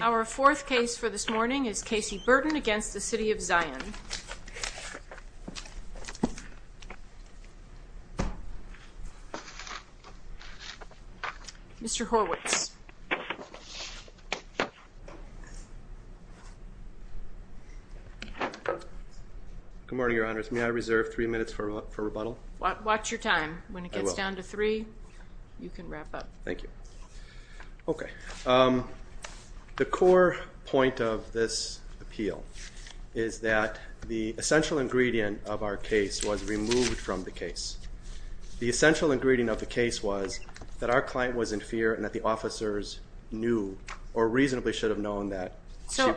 Our fourth case for this morning is Kasey Burton v. City of Zion. Mr. Horwitz. Good morning, Your Honors. May I reserve three minutes for rebuttal? Watch your time. When it gets down to three, you can wrap up. Thank you. Okay, The core point of this appeal is that the essential ingredient of our case was removed from the case. The essential ingredient of the case was that our client was in fear and that the officers knew or reasonably should have known that. So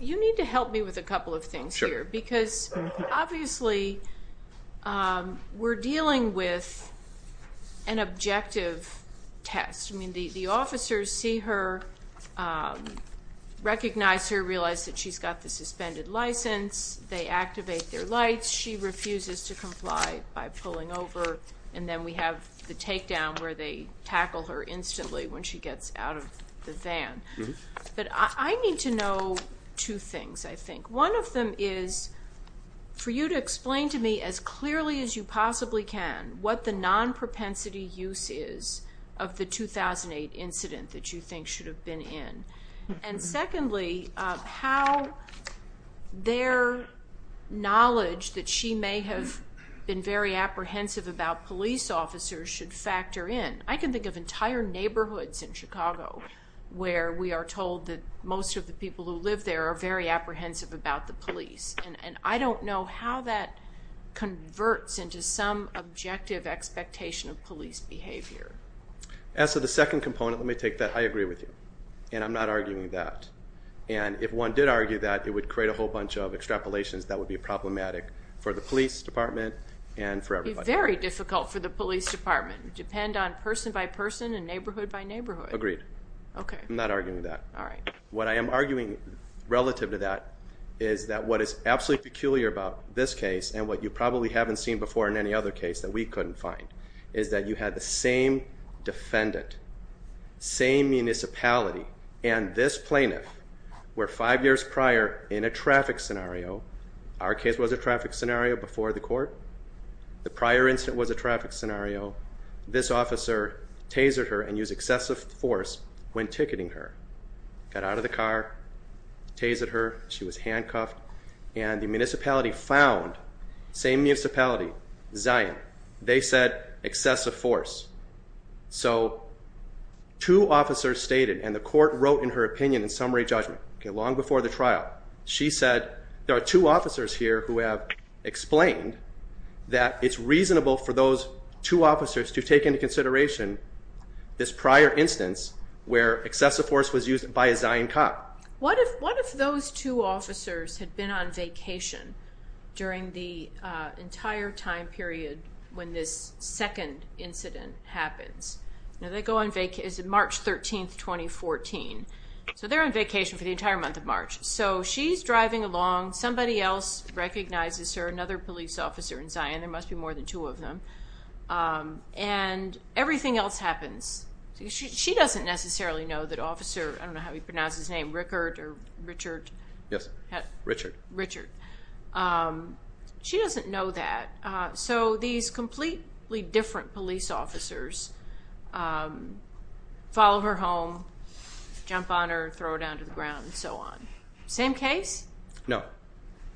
you need to help me with a couple of things here because obviously we're dealing with an objective test. I mean the officers see her, recognize her, realize that she's got the suspended license, they activate their lights, she refuses to comply by pulling over, and then we have the takedown where they tackle her instantly when she gets out of the van. But I need to know two things, I to me as clearly as you possibly can what the non-propensity use is of the 2008 incident that you think should have been in. And secondly, how their knowledge that she may have been very apprehensive about police officers should factor in. I can think of entire neighborhoods in Chicago where we are told that most of the people who live there are very apprehensive about the converts into some objective expectation of police behavior. As for the second component, let me take that I agree with you and I'm not arguing that. And if one did argue that it would create a whole bunch of extrapolations that would be problematic for the police department and for everybody. Very difficult for the police department. Depend on person by person and neighborhood by neighborhood. Agreed. Okay. I'm not arguing that. All right. What I am arguing relative to that is that what is absolutely peculiar about this case and what you probably haven't seen before in any other case that we couldn't find is that you had the same defendant, same municipality and this plaintiff were five years prior in a traffic scenario. Our case was a traffic scenario before the court. The prior incident was a traffic scenario. This officer tasered her and use excessive force when ticketing her. Got out of the car, tasered her. She was handcuffed and the municipality found same municipality, Zion. They said excessive force. So two officers stated and the court wrote in her opinion in summary judgment. Okay. Long before the trial, she said there are two officers here who have explained that it's reasonable for those two officers to take into consideration this prior instance where excessive force was used by a Zion cop. What if, what if those two officers had been on vacation during the entire time period when this second incident happens? Now they go on, is it March 13th, 2014? So they're on vacation for the entire month of March. So she's driving along. Somebody else recognizes her, another police officer in Zion. There must be more than two of them. Um, and everything else happens. She doesn't necessarily know that officer, I don't know how he pronounced his name, Rickert or Richard. Yes, Richard. Richard. Um, she doesn't know that. Uh, so these completely different police officers, um, follow her home, jump on her, throw her down to the ground and so on. Same case? No.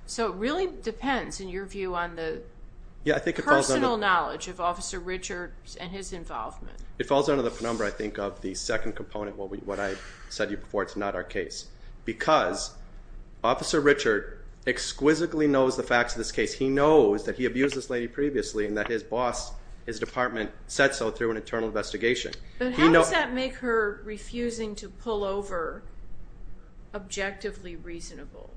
So it really depends in your view on the personal knowledge of officer Richard and his involvement. It is an important component. What I said to you before, it's not our case. Because officer Richard exquisitely knows the facts of this case. He knows that he abused this lady previously and that his boss, his department, said so through an internal investigation. But how does that make her refusing to pull over objectively reasonable?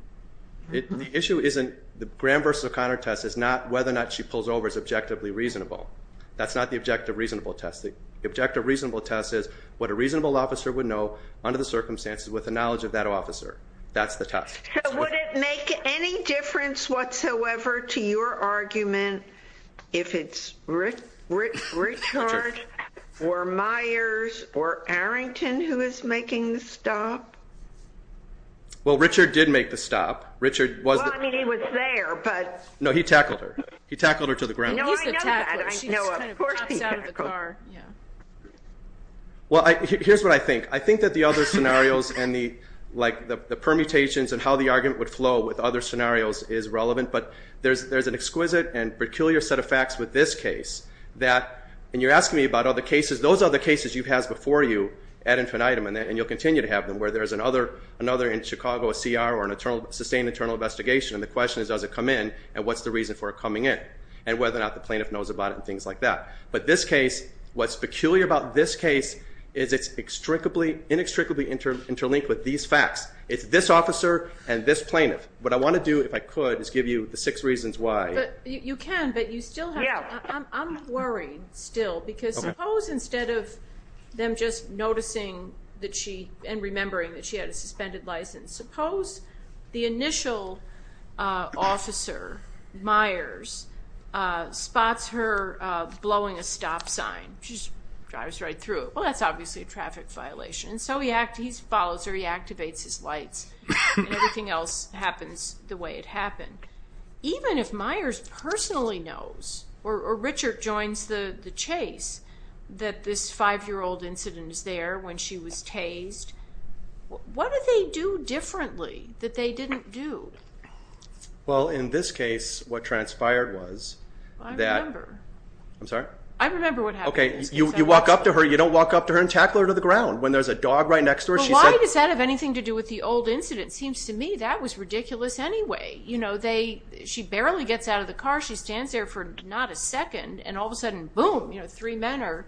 The issue isn't, the Graham versus O'Connor test is not whether or not she pulls over as objectively reasonable. That's not the objective reasonable test. The objective reasonable test is what a reasonable officer would know under the circumstances with the knowledge of that officer. That's the test. So would it make any difference whatsoever to your argument if it's Richard or Myers or Arrington who is making the stop? Well Richard did make the stop. Richard was. Well I mean he was there but. No, he Here's what I think. I think that the other scenarios and the like the permutations and how the argument would flow with other scenarios is relevant. But there's an exquisite and peculiar set of facts with this case that, and you're asking me about all the cases, those are the cases you've had before you ad infinitum and you'll continue to have them. Where there's another in Chicago, a CR, or a sustained internal investigation and the question is does it come in and what's the reason for it coming in? And whether or not the plaintiff knows about it and things like that. But this case, what's inextricably interlinked with these facts. It's this officer and this plaintiff. What I want to do, if I could, is give you the six reasons why. You can, but you still have to. I'm worried still because suppose instead of them just noticing that she, and remembering that she had a suspended license, suppose the initial officer, Myers, spots her blowing a stop sign. She just drives right through it. Well, that's obviously a traffic violation. So he follows her, he activates his lights, and everything else happens the way it happened. Even if Myers personally knows, or Richard joins the chase, that this five year old incident is there when she was tased, what do they do differently that they didn't do? Well, in this case, what transpired was that... I remember. I'm sorry? I remember what happened in this case. Okay, you walk up to her, you don't walk up to her and tackle her to the ground. When there's a dog right next to her, she said... But why does that have anything to do with the old incident? Seems to me that was ridiculous anyway. She barely gets out of the car, she stands there for not a second, and all of a sudden, boom, three men are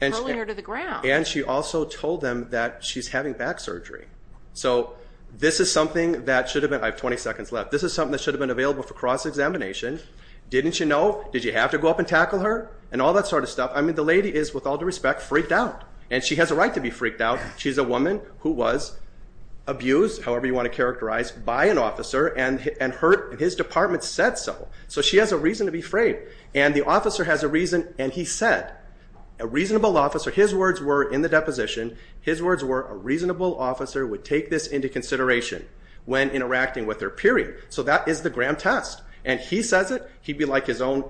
hurling her to the ground. And she also told them that she's having back surgery. So this is something that should have been... I have 20 seconds left. This is something that should have been available for cross examination. Didn't you know? Did you have to go up and tackle her? And all that sort of stuff. The lady is, with all due respect, freaked out. And she has a right to be freaked out. She's a woman who was abused, however you wanna characterize, by an officer, and hurt, and his department said so. So she has a reason to be afraid. And the officer has a reason, and he said, a reasonable officer, his words were in the deposition, his words were, a reasonable officer would take this into consideration when interacting with her, period. So that is the Graham test. And he says it, he'd be like his own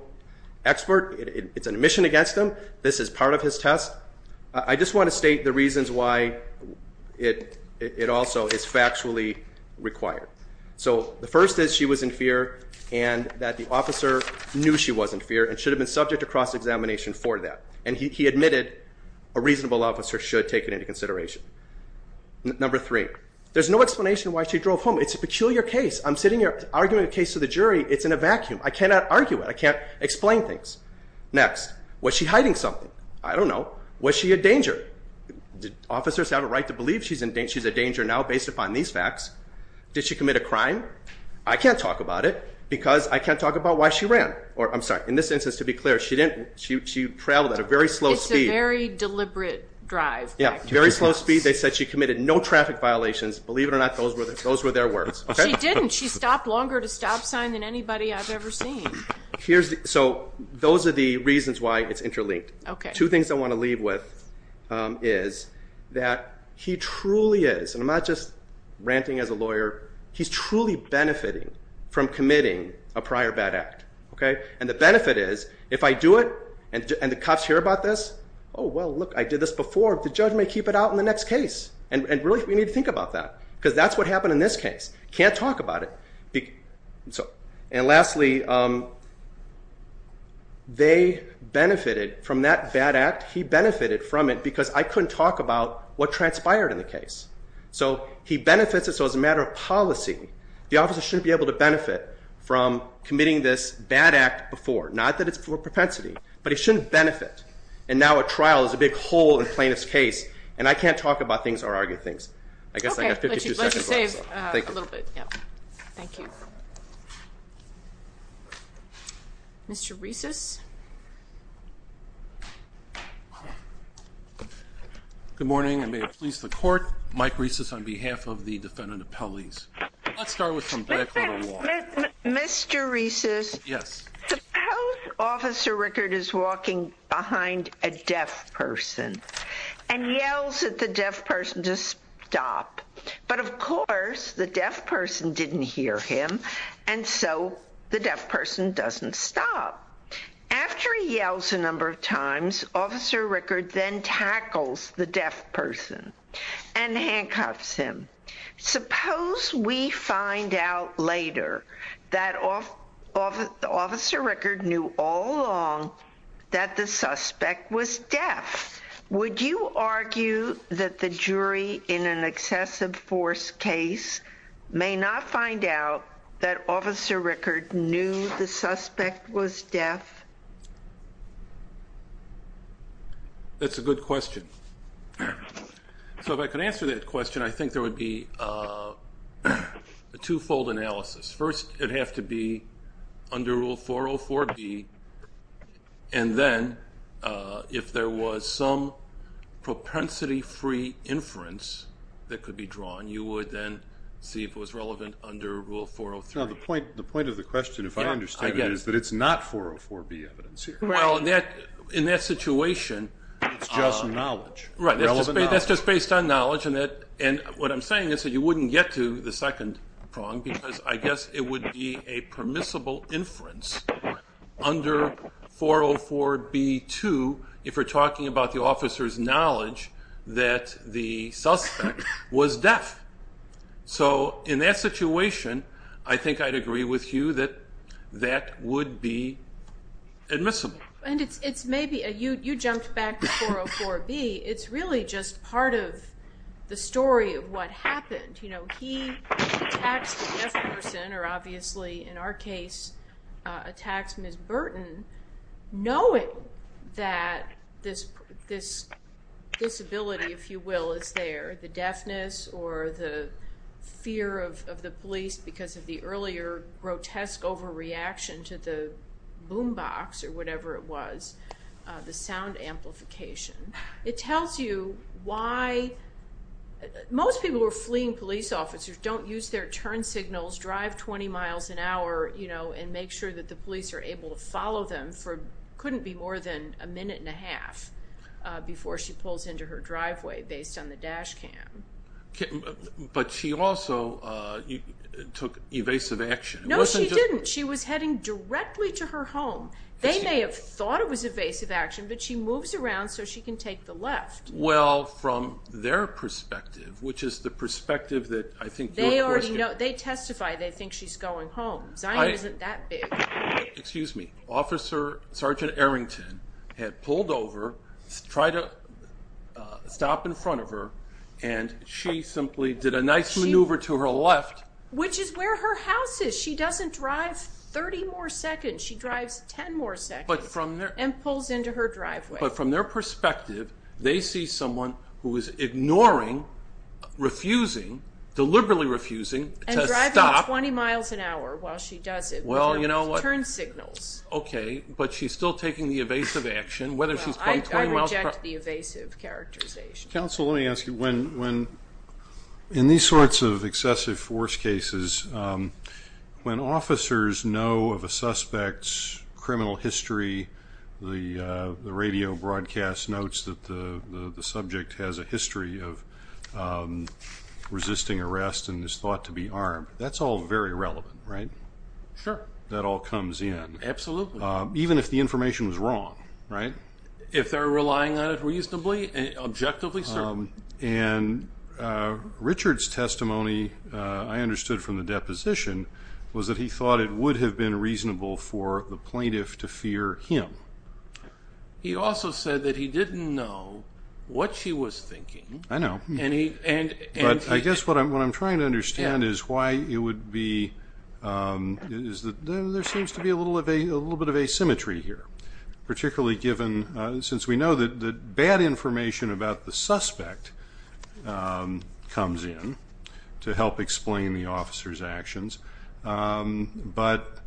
expert, it's an admission against him, this is part of his test. I just wanna state the reasons why it also is factually required. So the first is, she was in fear, and that the officer knew she was in fear, and should have been subject to cross examination for that. And he admitted, a reasonable officer should take it into consideration. Number three, there's no explanation why she drove home. It's a peculiar case, I'm sitting here arguing a case to the jury, it's in a vacuum, I cannot argue it, I can't explain things. Next, was she hiding something? I don't know. Was she a danger? Did officers have a right to believe she's a danger now, based upon these facts? Did she commit a crime? I can't talk about it, because I can't talk about why she ran. Or I'm sorry, in this instance, to be clear, she didn't... She traveled at a very slow speed. It's a very deliberate drive. Yeah, very slow speed, they said she committed no traffic violations, believe it or not, those were their words. She didn't, she stopped longer to stop sign than anybody I've ever seen. So those are the reasons why it's interlinked. Okay. Two things I wanna leave with is that he truly is, and I'm not just ranting as a lawyer, he's truly benefiting from committing a prior bad act. And the benefit is, if I do it, and the cops hear about this, oh well, look, I did this before, the judge may keep it out in the next case. And really, we need to think about that, because that's what happened in this case. Can't talk about it. And lastly, they benefited from that bad act, he benefited from it, because I couldn't talk about what transpired in the case. So he benefits, and so as a matter of policy, the officer shouldn't be able to benefit from committing this bad act before. Not that it's for propensity, but he shouldn't benefit. And now a trial is a big hole in plaintiff's case, and I can't talk about things or argue things. I guess I got 52 seconds left, so thank you. Okay, let's just save a little bit, yeah. Thank you. Mr. Reeses. Good morning, and may it please the court, Mike Reeses on behalf of the defendant of Pelley's. Let's start with some background on law. Mr. Reeses. Yes. Suppose Officer Rickard is walking behind a deaf person and yells at the deaf person to stop. But of course, the deaf person didn't hear him, and so the deaf person doesn't stop. After he yells a number of times, Officer Rickard then tackles the deaf person and handcuffs him. Suppose we find out later that Officer Rickard knew all along that the suspect was deaf. Would you argue that the jury in an excessive force case may not find out that Officer Rickard knew the suspect was deaf? That's a good question. So if I could answer that question, I think there would be a twofold analysis. First, it'd have to be under Rule 404B, and then if there was some propensity free inference that could be drawn, you would then see if it was relevant under Rule 403. Now, the point of the question, if I understand it, is that it's not 404B evidence here. Well, in that situation... It's just knowledge. That's just based on knowledge, and what I'm saying is that you wouldn't get to the second prong, because I guess it would be a permissible inference under 404B2, if we're talking about the officer's knowledge that the suspect was deaf. So in that situation, I think I'd agree with you that that would be admissible. And it's maybe... You jumped back to 404B, it's really just part of the story of what happened. He attacks the deaf person, or obviously, in our case, attacks Ms. Burton, knowing that this disability, if you will, is there. The deafness or the fear of the police because of the earlier grotesque overreaction to the boombox, or whatever it was, the sound amplification. It tells you why... Most people who are fleeing police officers don't use their turn signals, drive 20 miles an hour, and make sure that the police are able to follow them for... Couldn't be more than a minute and a half before she pulls into her driveway based on the dash cam. But she also took evasive action. No, she didn't. She was heading directly to her home. They may have thought it was evasive action, but she moves around so she can take the left. Well, from their perspective, which is the perspective that I think... They already know. They testify they think she's going home. Zion isn't that big. Excuse me. Officer Sergeant Arrington had pulled over, tried to stop in front of her, and she simply did a nice maneuver to her left. Which is where her house is. She doesn't drive 30 more seconds. She drives 10 more seconds and pulls into her driveway. But from their perspective, they see someone who is ignoring, refusing, deliberately refusing to stop... And driving 20 miles an hour while she does it with her turn signals. Okay, but she's still taking the evasive action, whether she's... I reject the evasive characterization. Counsel, let me ask you, when... In these sorts of excessive force cases, when officers know of a suspect's criminal history, the radio broadcast notes that the subject has a history of resisting arrest and is thought to be armed. That's all very relevant, right? Sure. That all comes in. Absolutely. Even if the information was wrong, right? If they're relying on it reasonably and objectively, certainly. And Richard's testimony, I understood from the deposition, was that he thought it would have been reasonable for the plaintiff to fear him. He also said that he didn't know what she was thinking. I know. And he... But I guess what I'm trying to understand is why it would be... There seems to be a little bit of asymmetry here, particularly given, since we know that bad information about the suspect comes in to help explain the officer's actions. But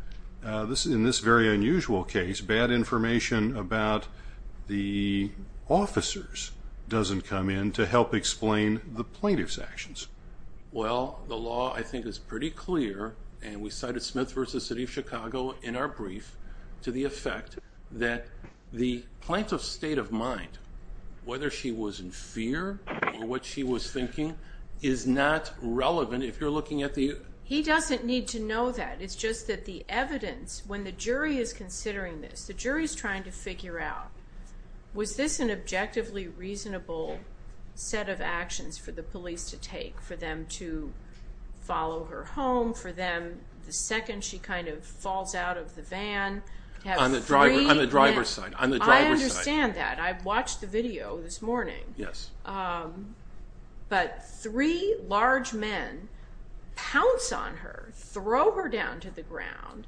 in this very unusual case, bad information about the officers doesn't come in to help explain the plaintiff's actions. Well, the law, I think, is pretty clear, and we cited Smith v. City of Chicago in our brief, to the effect that the plaintiff's state of mind, whether she was in fear or what she was thinking, is not relevant if you're looking at the... He doesn't need to know that. It's just that the evidence, when the jury is considering this, the jury's trying to figure out, was this an objectively reasonable set of actions for the police to take, for them to follow her home, for them, the second she kind of falls out of the van, to have three... On the driver's side, on the driver's side. I understand that. I watched the video this morning. Yes. But three large men pounce on her, throw her down to the ground.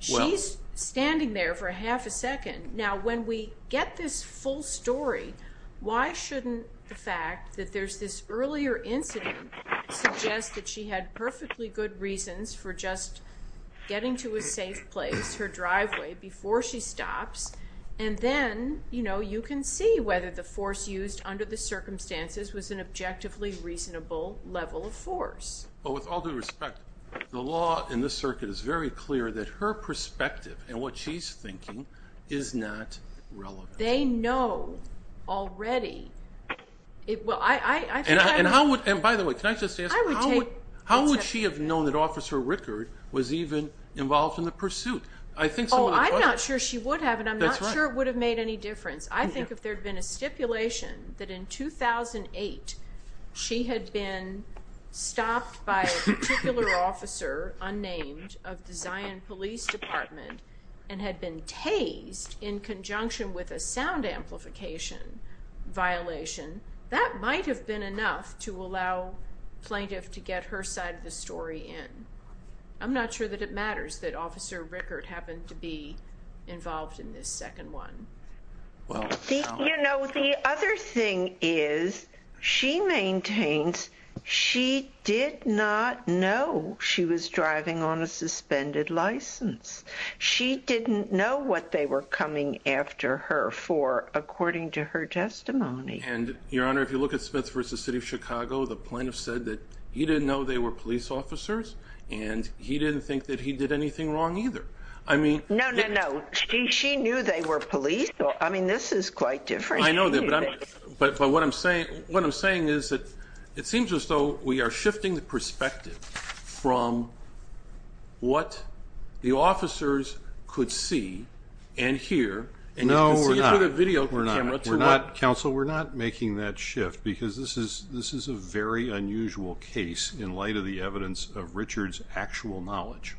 She's standing there for a half a second. Now, when we get this full story, why shouldn't the fact that there's this earlier incident suggest that she had perfectly good reasons for just getting to a safe place, her driveway, before she stops? And then you can see whether the force used under the circumstances was an objectively reasonable level of force. But with all due respect, the law in this circuit is very clear that her perspective and what she's thinking is not relevant. They know already... Well, I think I... And how would... And by the way, can I just ask, how would she have known that Officer Rickard was even involved in the pursuit? I think some of the questions... Oh, I'm not sure she would have, and I'm not sure it would have made any difference. I think if there'd been a stipulation that in 2008, she had been stopped by a particular officer, unnamed, of the Zion Police Department, and had been tased in conjunction with a sound amplification violation, that might have been enough to allow plaintiff to get her side of the story in. I'm not sure that it matters that Officer Rickard happened to be involved in this second one. Well, so... The other thing is, she maintains she did not know she was driving on a suspended license. She didn't know what they were coming after her for, according to her testimony. And Your Honor, if you look at Smith v. City of Chicago, the plaintiff said that he didn't know they were police officers, and he didn't think that he did anything wrong either. I mean... No, no, no. She knew they were police. I mean, this is quite different. I know that, but what I'm saying is that it seems as though we are shifting the perspective from what the officers could see and hear... No, we're not. Council, we're not making that shift, because this is a very unusual case in light of the evidence of Richard's actual knowledge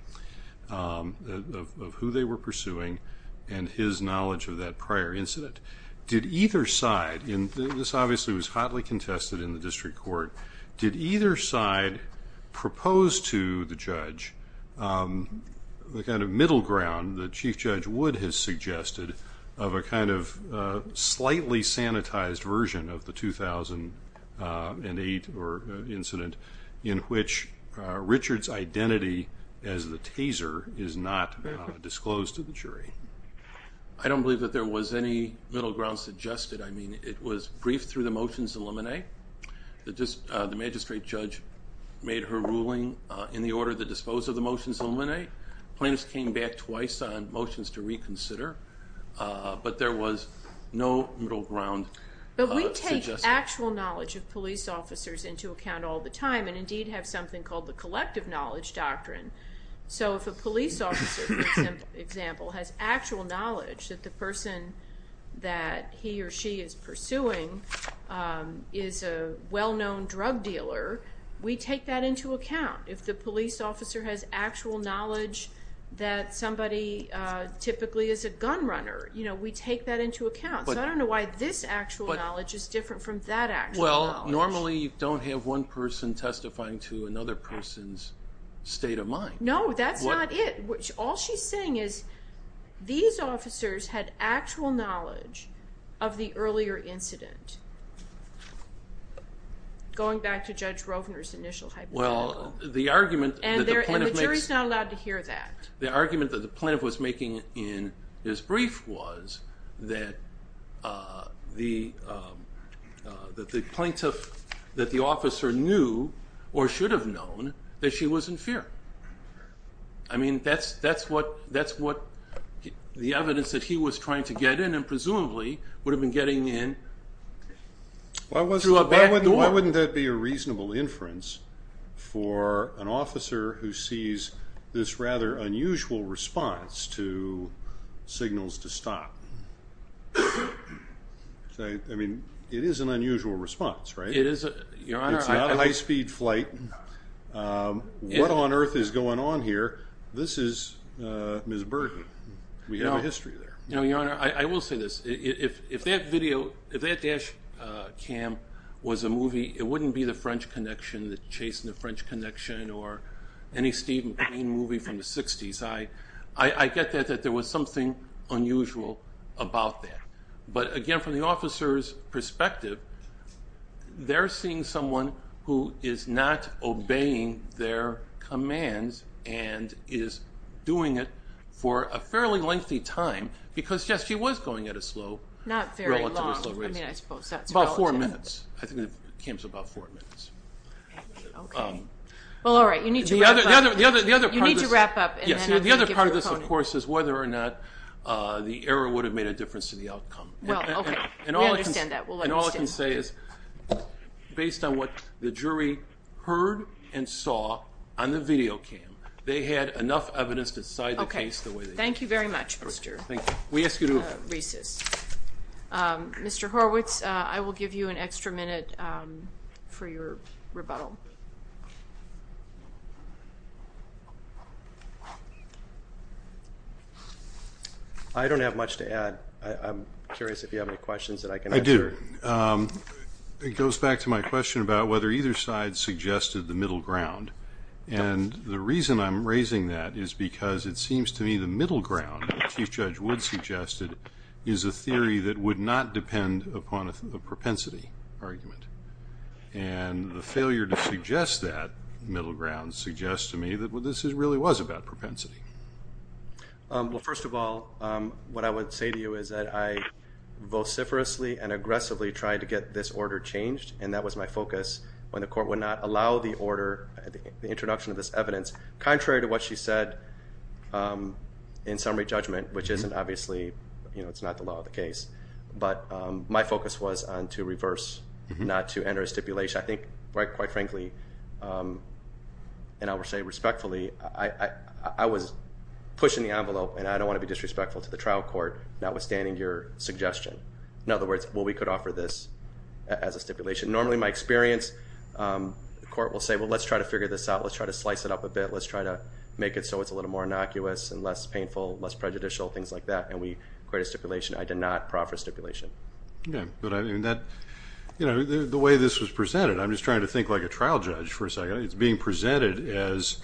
of who they were pursuing, and his knowledge of that prior incident. Did either side... And this obviously was hotly contested in the district court. Did either side propose to the judge the kind of middle ground that Chief Judge Wood has suggested of a kind of slightly sanitized version of the 2008 incident, in which Richard's identity as the taser is not disclosed to the jury? I don't believe that there was any middle ground suggested. It was briefed through the motions to eliminate. The magistrate judge made her ruling in the order that disposed of the motions to eliminate. Plaintiffs came back twice on motions to reconsider, but there was no middle ground suggested. But we take actual knowledge of police officers into account all the time, and indeed have something called the collective knowledge doctrine. So if a police officer, for example, has actual knowledge that the person that he or she is pursuing is a well known drug dealer, we take that into account. If the police officer has actual knowledge that somebody typically is a gun runner, we take that into account. So I don't know why this actual knowledge is different from that actual knowledge. Well, normally you don't have one person testifying to another person's state of mind. No, that's not it. All she's saying is these officers had actual knowledge of the earlier incident. Going back to Judge Rovner's initial hypothetical. Well, the argument that the plaintiff makes... And the jury's not allowed to hear that. The argument that the plaintiff was making in his brief was that the plaintiff, that the officer knew or should have known that she was in fear. That's what the evidence that he was trying to get in and presumably would have been getting in through a back door. Why wouldn't that be a reasonable inference for an officer who sees this rather unusual response to signals to stop? I mean, it is an unusual response, right? It is, Your Honor. It's not a high speed flight. What on earth is going on here? This is Ms. Bergen. We have a history there. No, Your Honor, I will say this. If that video, if that dash cam was a movie, it wouldn't be the French Connection, the Chase and the French Connection or any Steve McQueen movie from the 60s. I get that there was something unusual about that. But again, from the officer's perspective, they're seeing someone who is not obeying their commands and is doing it for a fairly lengthy time because, yes, she was going at a slow... Not very long. I mean, I suppose that's relative. It's about four minutes. I think it came to about four minutes. Okay. Well, all right. You need to wrap up. The other part of this... You need to wrap up and then I'm going to give you your opponent. Yes. The other part of this, of course, is whether or not the error would have made a difference to the outcome. Well, okay. We understand that. We'll let you stand. And all I can say is, based on what the jury heard and saw on the video cam, they had enough evidence to side the case the way they did. Okay. Thank you very much, Mr. Reeses. Thank you. We ask you to... Mr. Horwitz, I will give you an extra minute for your rebuttal. I don't have much to add. I'm curious if you have any questions that I can answer. I do. It goes back to my question about whether either side suggested the middle ground. And the reason I'm raising that is because it seems to me the middle ground, as Chief Judge Wood suggested, is a theory that would not depend upon a propensity argument. And the failure to suggest that middle ground suggests to me that what this is really was about propensity. Well, first of all, what I would say to you is that I vociferously and aggressively tried to get this order changed. And that was my focus when the court would not allow the order, the introduction of this evidence, contrary to what she said in summary judgment, which isn't obviously, you know, it's not the law of the case. But my focus was on to reverse, not to enter a stipulation. I think, quite frankly, and I will say respectfully, I was pushing the envelope and I don't want to be disrespectful to the trial court, notwithstanding your suggestion. In other words, well, we could offer this as a stipulation. Normally, in my experience, the court will say, well, let's try to figure this out. Let's try to slice it up a bit. Let's try to make it so it's a little more innocuous and less painful, less prejudicial, things like that. And we create a stipulation. I did not proffer stipulation. Yeah, but I mean that, you know, the way this was presented, I'm just trying to think like a trial judge for a second. It's being presented as,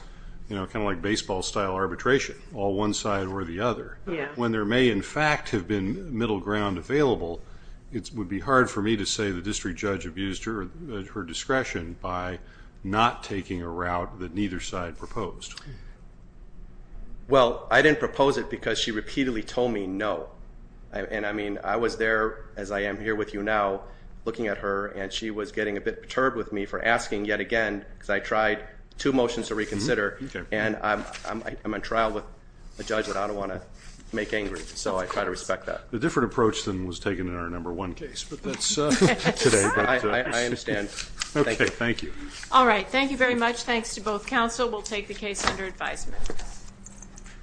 you know, kind of like baseball style arbitration, all one side or the other. When there may, in fact, have been middle ground available, it would be hard for me to say the district judge abused her discretion by not taking a route that neither side proposed. Well, I didn't propose it because she repeatedly told me no. And I mean, I was there, as I am here with you now, looking at her and she was getting a bit perturbed with me for asking yet again because I tried two motions to reconsider and I'm on trial with a judge that I don't want to make angry. So I try to respect that. All right. Thank you very much. Thanks to both counsel. We'll take the case under advisement.